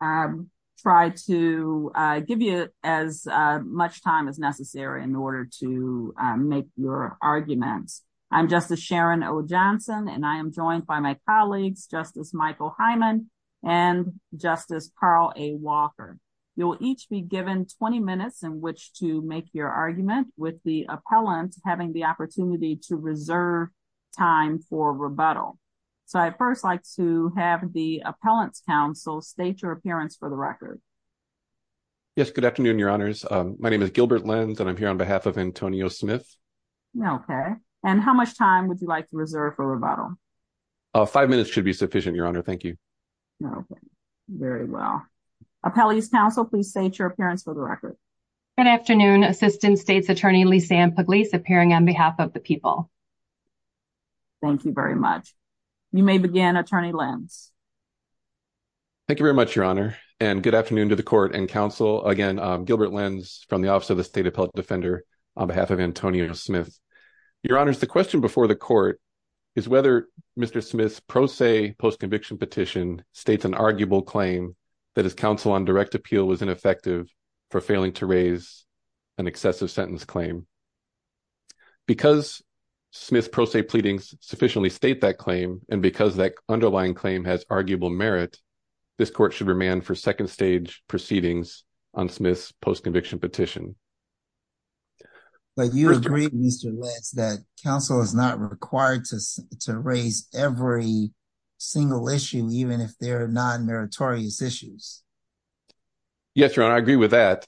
I try to give you as much time as necessary in order to make your arguments. I'm Justice Sharon O. Johnson and I am joined by my colleagues Justice Michael Hyman and Justice Carl A. Walker. You'll each be given 20 minutes in which to make your argument with the appellant having the appearance for the record. Yes, good afternoon, Your Honors. My name is Gilbert Lenz and I'm here on behalf of Antonio Smith. Okay, and how much time would you like to reserve for rebuttal? Five minutes should be sufficient, Your Honor. Thank you. Okay, very well. Appellees Council, please state your appearance for the record. Good afternoon, Assistant States Attorney Lisanne Pugliese appearing on behalf of the people. Thank you very much. You may begin, Attorney Lenz. Thank you very much, Your Honor, and good afternoon to the Court and Council. Again, Gilbert Lenz from the Office of the State Appellate Defender on behalf of Antonio Smith. Your Honors, the question before the Court is whether Mr. Smith's pro se post-conviction petition states an arguable claim that his counsel on direct appeal was ineffective for failing to raise an excessive sentence claim. Because Smith's pro se pleadings sufficiently state that claim and because that underlying claim has arguable merit, this Court should remand for second stage proceedings on Smith's post-conviction petition. But you agree, Mr. Lenz, that counsel is not required to raise every single issue even if they're non-meritorious issues. Yes, Your Honor, I agree with that.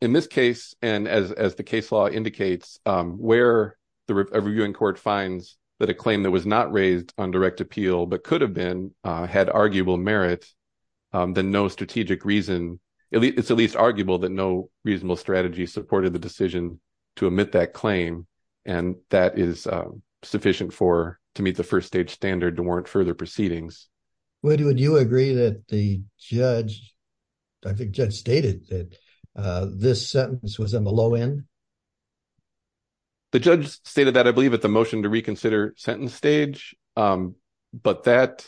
In this case, and as the case law indicates, where the reviewing court finds that a claim that was not raised on direct appeal but could have been had arguable merit, then no strategic reason, it's at least arguable that no reasonable strategy supported the decision to omit that claim. And that is sufficient for to meet the first stage standard to warrant further proceedings. Would you agree that the judge, I think judge stated that this sentence was on the low end? The judge stated that, I believe, at the motion to reconsider sentence stage. But that,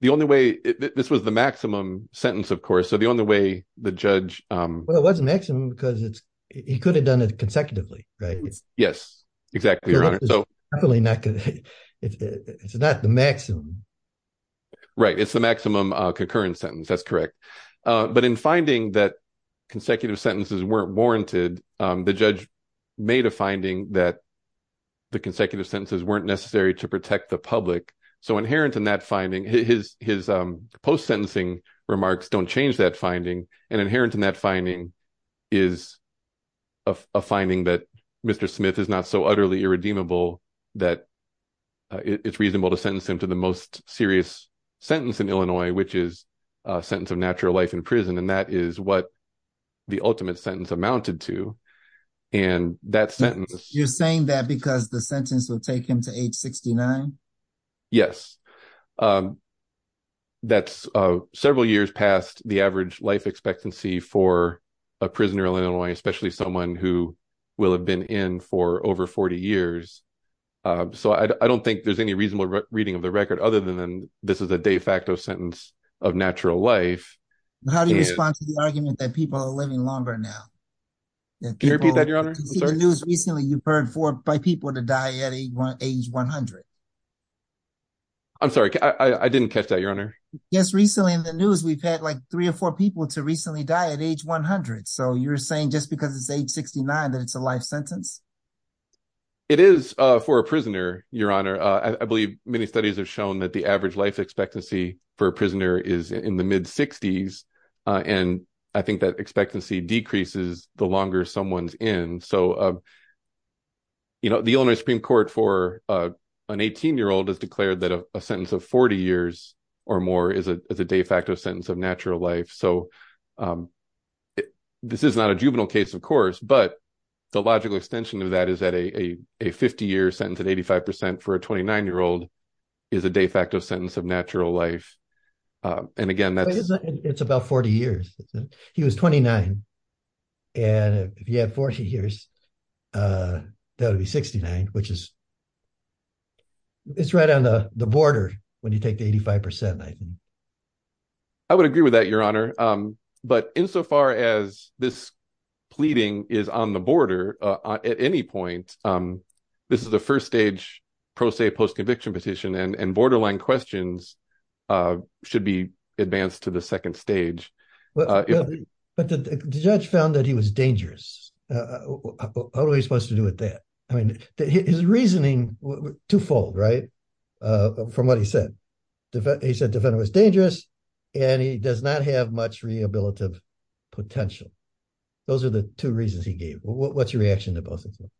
the only way, this was the maximum sentence, of course, so the only way the judge... Well, it wasn't maximum because it's, he could have done it consecutively, right? Yes, exactly, Your Honor. It's not the maximum. Right, it's the maximum concurrent sentence. That's correct. But in finding that consecutive sentences weren't warranted, the judge made a finding that the consecutive sentences weren't necessary to protect the public. So inherent in that finding, his post-sentencing remarks don't change that finding, and inherent in that finding is a finding that Mr. Smith is not so utterly irredeemable that it's reasonable to sentence him to the most serious sentence in Illinois, which is a sentence of natural life in prison. And that is what the ultimate sentence amounted to. And that sentence... You're saying that because the sentence will take him to age 69? Yes, that's several years past the average life expectancy for a prisoner in Illinois, especially someone who will have been in for over 40 years. So I don't think there's any reasonable reading of the record other than this is a de facto sentence of natural life. How do you respond to the argument that people are living longer now? Can you repeat that, Your Honor? I'm sorry? In the news recently, you've heard by people to die at age 100. I'm sorry, I didn't catch that, Your Honor. Yes, recently in the news, we've had like three or four people to recently die at age 100. So you're saying just because it's age 69 that it's a life sentence? It is for a prisoner, Your Honor. I believe many studies have shown that the average life expectancy for a prisoner is in the mid-60s. And I think that expectancy decreases the longer someone's in. So the Illinois Supreme Court for an 18-year-old has declared that a sentence of 40 years or more is a de facto sentence of natural life. So this is not a juvenile case, of course, but the logical extension of that is that a 50-year sentence at 85% for a 29-year-old is a de facto sentence of natural life. And again, that's... It's about 40 years. He was 29. And if you had 40 years, that would be 69, which is... It's right on the border when you take the pleading is on the border at any point. This is a first stage pro se post-conviction petition, and borderline questions should be advanced to the second stage. But the judge found that he was dangerous. How are we supposed to do with that? I mean, his reasoning was twofold, right, from what he said. He said the defendant was dangerous and he does not have much rehabilitative potential. Those are the two reasons he gave. What's your reaction to both of them?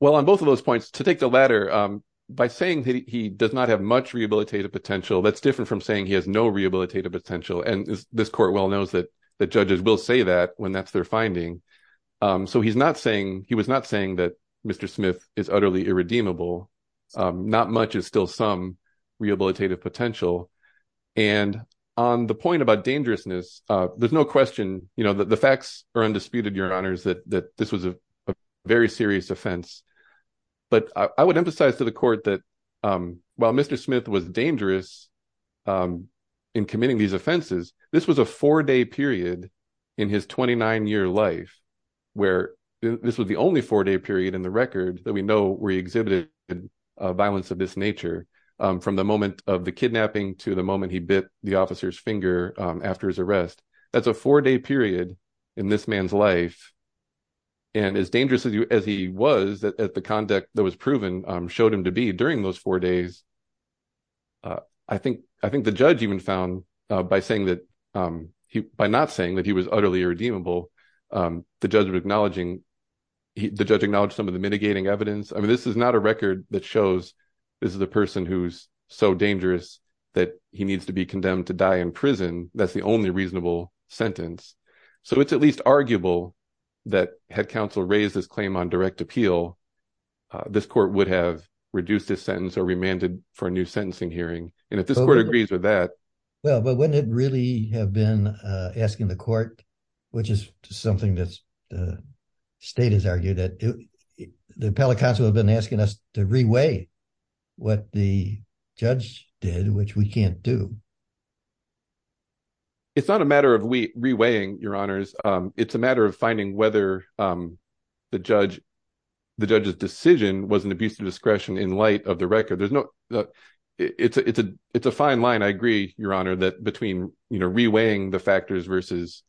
Well, on both of those points, to take the latter, by saying that he does not have much rehabilitative potential, that's different from saying he has no rehabilitative potential. And this court well knows that judges will say that when that's their finding. So he's not saying... He was not saying that Mr. Smith is utterly irredeemable. Not much is still some rehabilitative potential. And on the point about dangerousness, there's no question, the facts are undisputed, Your Honors, that this was a very serious offense. But I would emphasize to the court that while Mr. Smith was dangerous in committing these offenses, this was a four-day period in his 29-year life where this was the only four-day period in the record that we know where he exhibited a violence of this nature, from the moment of the kidnapping to the moment he bit the officer's finger after his arrest. That's a four-day period in this man's life. And as dangerous as he was, as the conduct that was proven showed him to be during those four days, I think the judge even found, by not saying that he was utterly irredeemable, the judge acknowledged some of the mitigating evidence. I mean, this is not a record that shows this is a person who's so dangerous that he needs to be condemned to die in prison. That's the only reasonable sentence. So it's at least arguable that had counsel raised this claim on direct appeal, this court would have reduced this sentence or remanded for a new sentencing hearing. And if this court agrees with that... Well, but wouldn't it really have been asking the court, which is something that the state has argued that the appellate counsel has been asking us to re-weigh what the judge did, which we can't do. It's not a matter of re-weighing, Your Honors. It's a matter of finding whether the judge's decision was an abuse of discretion in light of the record. It's a fine line. I agree, Your Honor, that between re-weighing the factors versus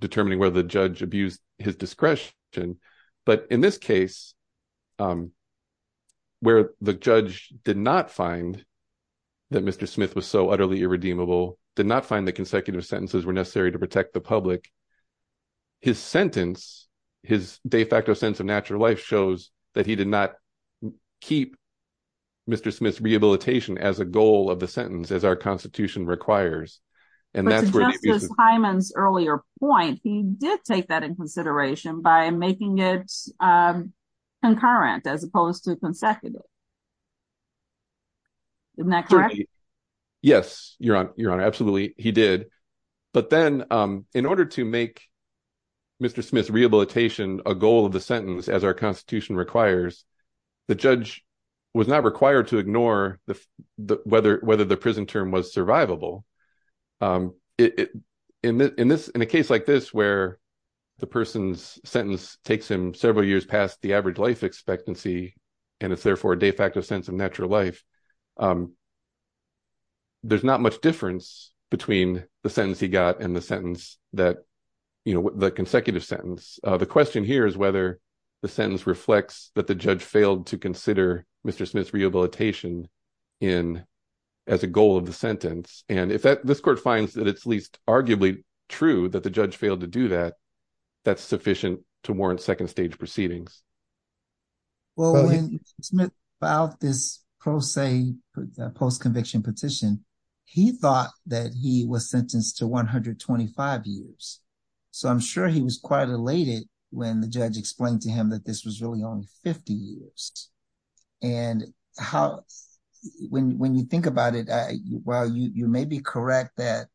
determining whether the judge abused his discretion. But in this case, where the judge did not find that Mr. Smith was so utterly irredeemable, did not find that consecutive sentences were necessary to protect the public, his sentence, his de facto sense of natural life shows that he did not keep Mr. Smith's and that's where... But to Justice Hyman's earlier point, he did take that in consideration by making it concurrent as opposed to consecutive. Isn't that correct? Yes, Your Honor, absolutely he did. But then in order to make Mr. Smith's rehabilitation a goal of the sentence, as our constitution requires, the judge was not required to ignore whether the prison term was necessary. In a case like this, where the person's sentence takes him several years past the average life expectancy, and it's therefore a de facto sense of natural life, there's not much difference between the sentence he got and the sentence that, you know, the consecutive sentence. The question here is whether the sentence reflects that the judge failed to consider Mr. Smith's rehabilitation as a goal of the sentence. And if this court finds that it's at least arguably true that the judge failed to do that, that's sufficient to warrant second stage proceedings. Well, when Mr. Smith filed this pro se post-conviction petition, he thought that he was sentenced to 125 years. So I'm sure he was quite elated when the judge explained to him that this was really only 50 years. And when you think about it, while you may be correct that,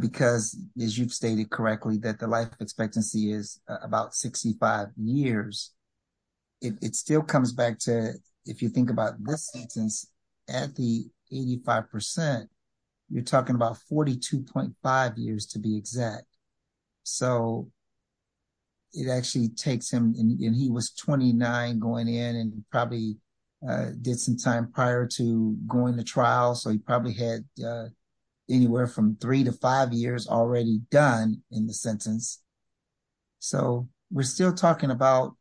because as you've stated correctly, that the life expectancy is about 65 years, it still comes back to, if you think about this sentence, at the 85%, you're talking about 42.5 years to be exact. So it actually takes him, and he was 29 going in and probably did some time prior to going to trial, so he probably had anywhere from three to five years already done in the sentence. So we're still talking about,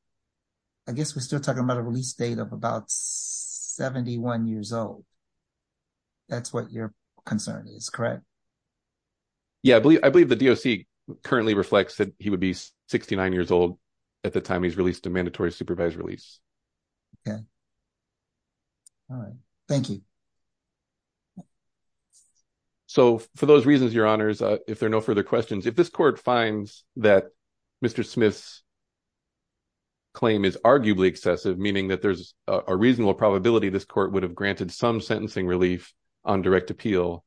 I guess we're still talking about a release date of about 71 years old. That's what your concern is, correct? Yeah, I believe the DOC currently reflects that he would be 69 years old at the time he's released a mandatory supervised release. Okay. All right. Thank you. So for those reasons, Your Honors, if there are no further questions, if this court finds that Mr. Smith's claim is arguably excessive, meaning that there's a reasonable probability this court would have granted some sentencing relief on direct appeal,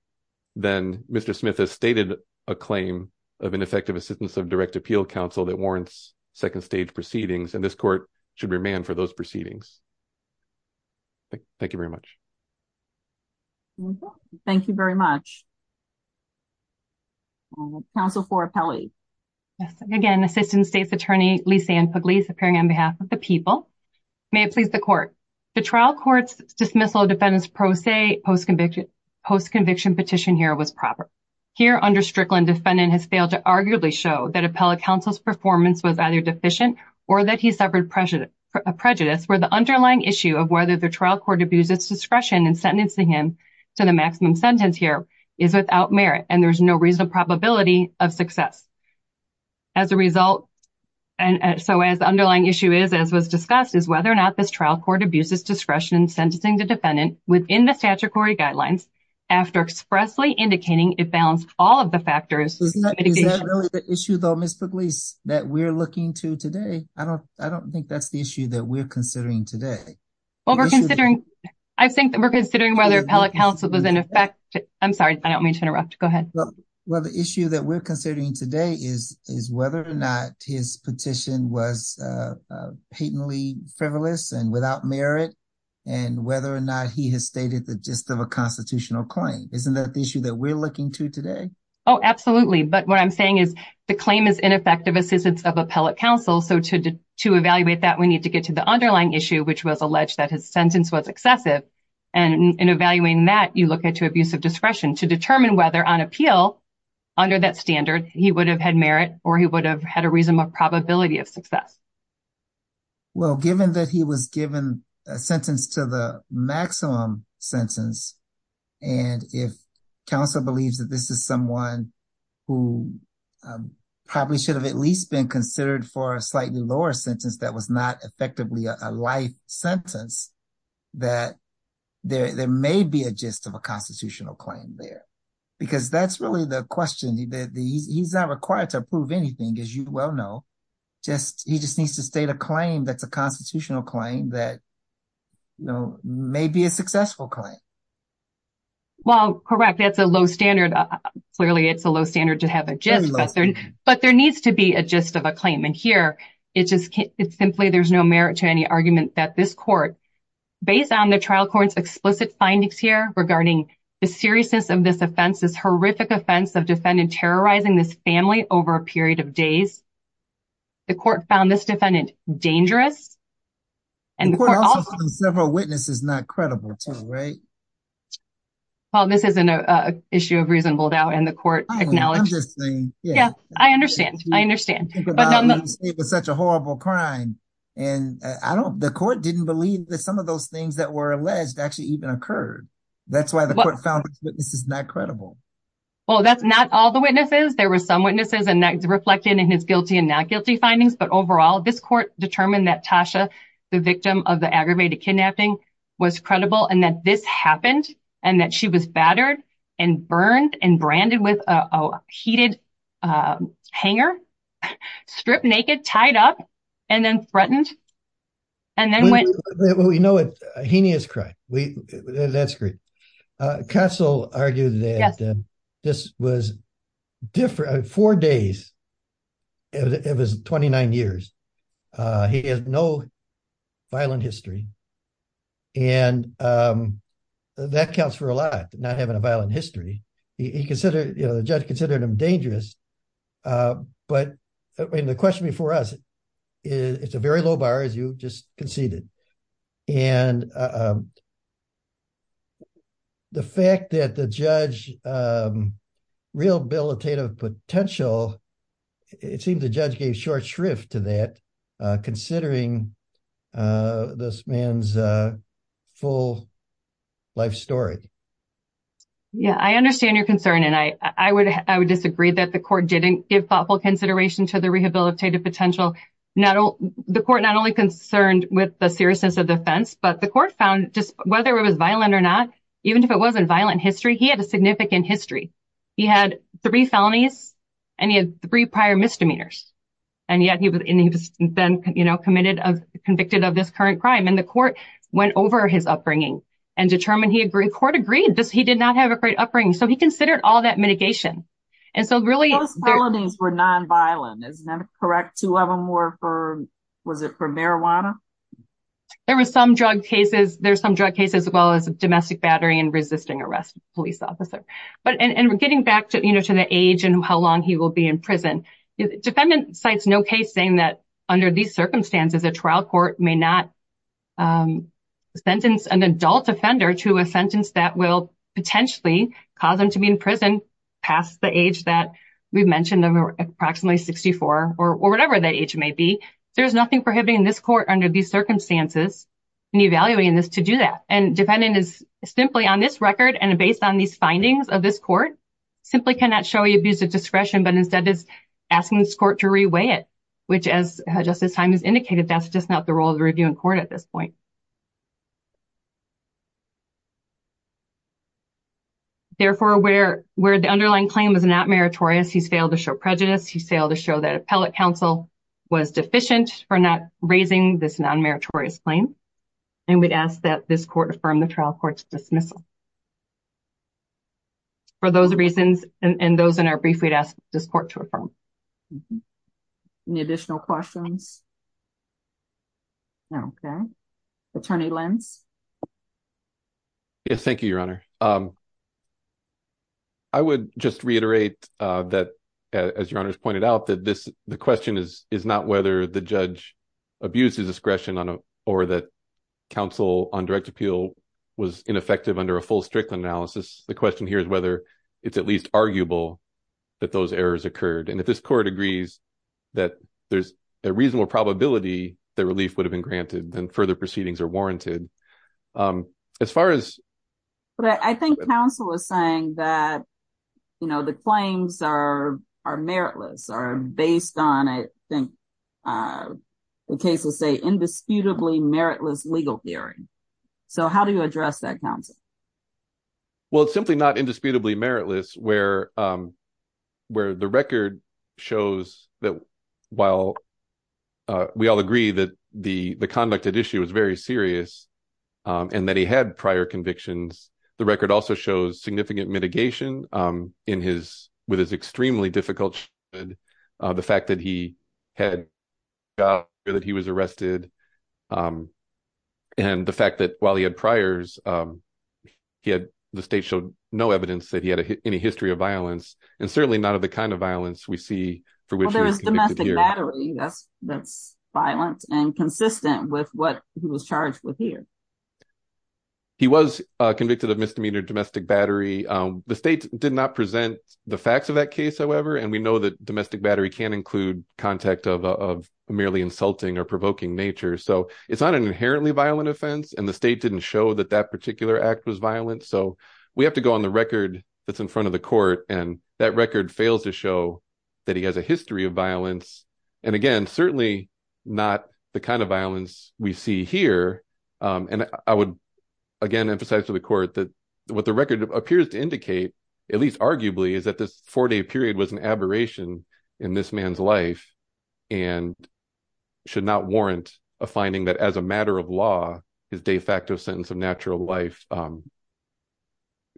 then Mr. Smith has stated a claim of ineffective assistance of direct appeal counsel that warrants second stage proceedings, and this court should remand for those proceedings. Thank you very much. Thank you very much. Counsel for appellate. Again, Assistant State's Attorney, Lisa Ann Pugliese, appearing on behalf of the people. May it please the court. The trial court's dismissal of defendant's pro se post-conviction petition here was proper. Here, under Strickland, defendant has failed to arguably show that appellate counsel's performance was either deficient or that he suffered prejudice where the underlying issue of whether the trial court abused its discretion in sentencing him to the maximum sentence here is without merit, and there's no reasonable probability of success. As a result, and so as the underlying issue is, as was discussed, is whether or not this trial court abuses discretion in sentencing the defendant within the statutory guidelines after expressly indicating it balanced all of the factors. Is that really the issue, though, Ms. Pugliese, that we're looking to today? I don't think that's the issue that we're considering today. Well, we're considering, I think that we're considering whether appellate counsel was in effect. I'm sorry, I don't mean to interrupt. Go ahead. Well, the issue that we're considering today is whether or not his petition was patently frivolous and without merit and whether or not he has stated the gist of a constitutional claim. Isn't that the issue that we're looking to today? Oh, absolutely. But what I'm saying is the claim is ineffective assistance of appellate counsel. So to evaluate that, we need to get to the underlying issue, which was alleged that his sentence was excessive. And in evaluating that, you look at to abuse of discretion to determine whether on appeal under that standard he would have had merit or he would have had a reasonable probability of success. Well, given that he was given a sentence to the maximum sentence, and if counsel believes that this is someone who probably should have at least been considered for a slightly lower sentence that was not effectively a life sentence, that there may be a gist of a because that's really the question that he's not required to prove anything, as you well know, just he just needs to state a claim that's a constitutional claim that, you know, may be a successful claim. Well, correct. That's a low standard. Clearly, it's a low standard to have a gist, but there needs to be a gist of a claim. And here, it's just it's simply there's no merit to any argument that this court, based on the trial court's explicit findings here regarding the seriousness of this offense, this horrific offense of defendant terrorizing this family over a period of days, the court found this defendant dangerous. And the court also found several witnesses not credible, too, right? Well, this is an issue of reasonable doubt, and the court acknowledged this thing. Yeah, I understand. I understand. But it was such a horrible crime. And I don't the court didn't believe that some of those things that were alleged actually even occurred. That's why the court found witnesses not credible. Well, that's not all the witnesses. There were some witnesses and that reflected in his guilty and not guilty findings. But overall, this court determined that Tasha, the victim of the aggravated kidnapping, was credible and that this happened and that she was battered and burned and branded with a heated hanger, stripped naked, tied up, and then threatened and then went. We know it's a heinous crime. That's great. Castle argued that this was different. Four days. It was 29 years. He has no violent history. And that counts for a lot, not having a violent history. He considered, you know, the judge considered him dangerous. But the question before us, it's a very low bar, as you just conceded. And the fact that the judge rehabilitative potential, it seems the judge gave short shrift to that, considering this man's full life story. Yeah, I understand your concern. And I would disagree that the court didn't give thoughtful consideration to the rehabilitative potential. The court not only concerned with the seriousness of the offense, but the court found just whether it was violent or not, even if it wasn't violent history, he had a significant history. He had three felonies and he had three prior misdemeanors. And yet he was then, you know, convicted of this current crime. And the court went over his upbringing and determined he agreed. He did not have a great upbringing. So he considered all that mitigation. And so really, those felonies were nonviolent. Is that correct? Two of them were for, was it for marijuana? There were some drug cases. There's some drug cases as well as domestic battery and resisting arrest police officer. But and we're getting back to, you know, to the age and how long he will be in prison. Defendant cites no case saying that under these circumstances, a trial court may not sentence an adult offender to a sentence that will potentially cause them to be in prison past the age that we've mentioned, approximately 64 or whatever that age may be. There's nothing prohibiting this court under these circumstances and evaluating this to do that. And defendant is simply on this record and based on these findings of this court, simply cannot show you abuse of discretion, but instead is asking this court to reweigh it, which as Justice Simons indicated, that's just not the role of the reviewing court at this point. Therefore, where the underlying claim is not meritorious, he's failed to show prejudice. He failed to show that appellate counsel was deficient for not raising this non-meritorious claim. And we'd ask that this court affirm the trial court's dismissal. For those reasons and those in our brief, we'd ask this court to affirm. Any additional questions? No. Okay. Attorney Lentz. Yes. Thank you, Your Honor. I would just reiterate that, as Your Honor's pointed out, that the question is not whether the judge abused his discretion or that counsel on direct appeal was ineffective under a full strict analysis. The question here is whether it's at least arguable that those errors occurred. And if this court agrees that there's a reasonable probability that relief would have been granted, then further proceedings are warranted. But I think counsel is saying that the claims are meritless, are based on, I think the cases say, indisputably meritless legal theory. So how do you address that, counsel? Well, it's simply not indisputably meritless where the record shows that while we all agree that the conduct at issue is very serious and that he had prior convictions, the record also shows significant mitigation with his extremely difficult childhood, the fact that he was arrested, and the fact that while he had priors, the state showed no evidence that he had any history of violence and certainly none of the kind of violence we see for which he was convicted. Well, there was domestic battery. That's violent and consistent with what he was charged with here. He was convicted of misdemeanor domestic battery. The state did not present the facts of that case, however, and we know that domestic battery can include contact of merely insulting or provoking nature. So it's not an inherently violent offense, and the state didn't show that that particular act was violent. So we have to go on the record that's in front of the court, and that record fails to show that he has a history of violence, and again, certainly not the kind of violence we see here. And I would, again, emphasize to the court that what the record appears to indicate, at least arguably, is that this four-day period was an aberration in this man's life and should not warrant a finding that as a matter of law, his de facto sentence of natural life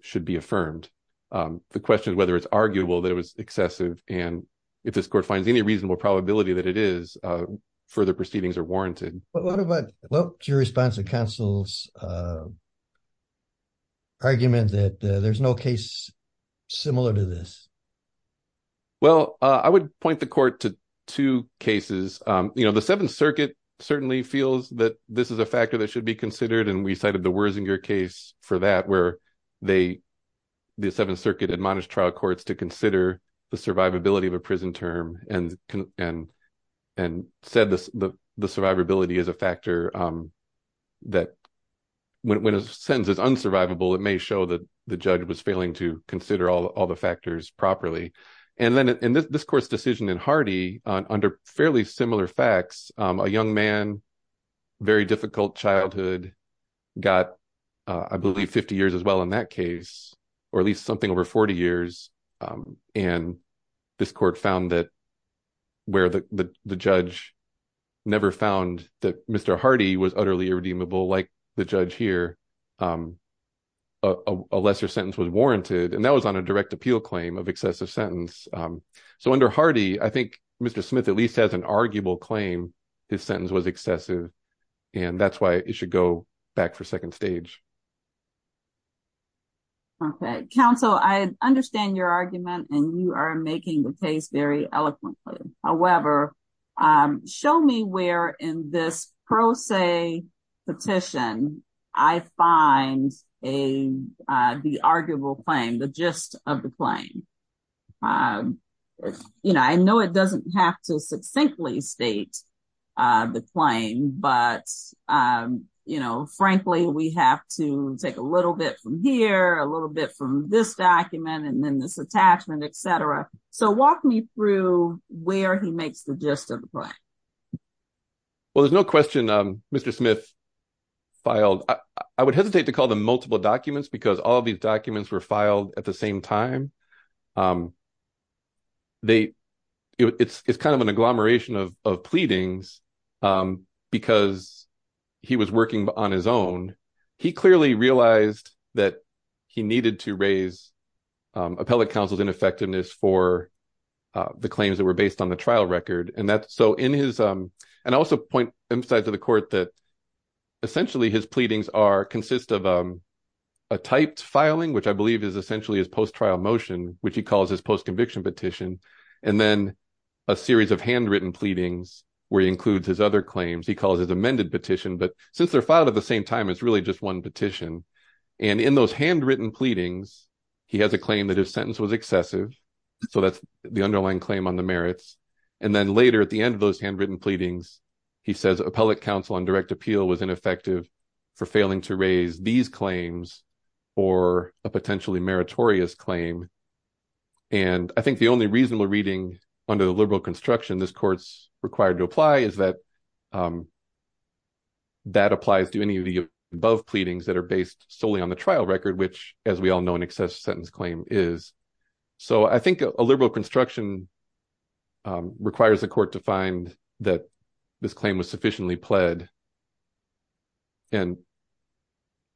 should be affirmed. The question is whether it's arguable that it was excessive, and if this court finds any reasonable probability that it is, further proceedings are warranted. What about your response to counsel's argument that there's no case similar to this? Well, I would point the court to two cases. You know, the Seventh Circuit certainly feels that this is a factor that should be considered, and we cited the Wersinger case for that, where the Seventh Circuit admonished trial courts to consider the survivability of a prison term and and said the survivability is a factor that, when a sentence is unsurvivable, it may show that the judge was failing to consider all the factors properly. And then in this court's decision in Hardy, under fairly similar facts, a young man, very difficult childhood, got, I believe, 50 years as well in that case, or at least something over 40 years, and this court found that where the judge never found that Mr. Hardy was utterly irredeemable like the judge here, a lesser sentence was warranted, and that was on a direct appeal claim of excessive sentence. So under Hardy, I think Mr. Smith at least has an arguable claim his sentence was excessive, and that's why it should go back for second stage. Okay. Counsel, I understand your argument, and you are making the case very eloquently. However, show me where in this pro se petition I find a, the arguable claim, the gist of the claim. You know, I know it doesn't have to succinctly state the claim, but, you know, frankly, we have to take a little bit from here, a little bit from this document, and then this attachment, etc. So walk me through where he makes the gist of the claim. Well, there's no question Mr. Smith filed. I would hesitate to call them multiple documents because all these documents were filed at the same time. It's kind of an agglomeration of he clearly realized that he needed to raise appellate counsel's ineffectiveness for the claims that were based on the trial record, and that, so in his, and I also point, emphasize to the court that essentially his pleadings are, consist of a typed filing, which I believe is essentially his post-trial motion, which he calls his post-conviction petition, and then a series of handwritten pleadings where he includes his other claims, he calls his amended petition, but since they're filed at the same time, it's really just one petition, and in those handwritten pleadings, he has a claim that his sentence was excessive, so that's the underlying claim on the merits, and then later at the end of those handwritten pleadings, he says appellate counsel on direct appeal was ineffective for failing to raise these claims for a potentially meritorious claim, and I think the only reasonable reading under the that applies to any of the above pleadings that are based solely on the trial record, which, as we all know, an excessive sentence claim is, so I think a liberal construction requires the court to find that this claim was sufficiently pled, and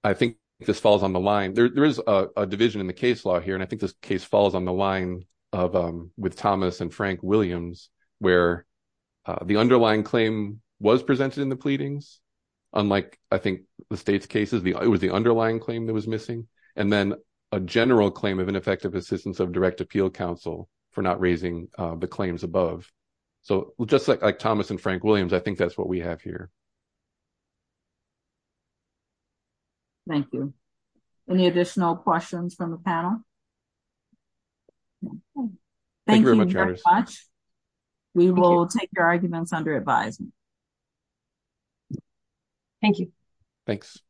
I think this falls on the line, there is a division in the case law here, and I think this case falls on the line of, with Thomas and Frank Williams, where the underlying claim was presented in the pleadings, unlike I think the state's cases, it was the underlying claim that was missing, and then a general claim of ineffective assistance of direct appeal counsel for not raising the claims above, so just like Thomas and Frank Williams, I think that's what we have here. Thank you. Any additional questions from the panel? Thank you very much. We will take your arguments under advisement. Thank you. Thanks.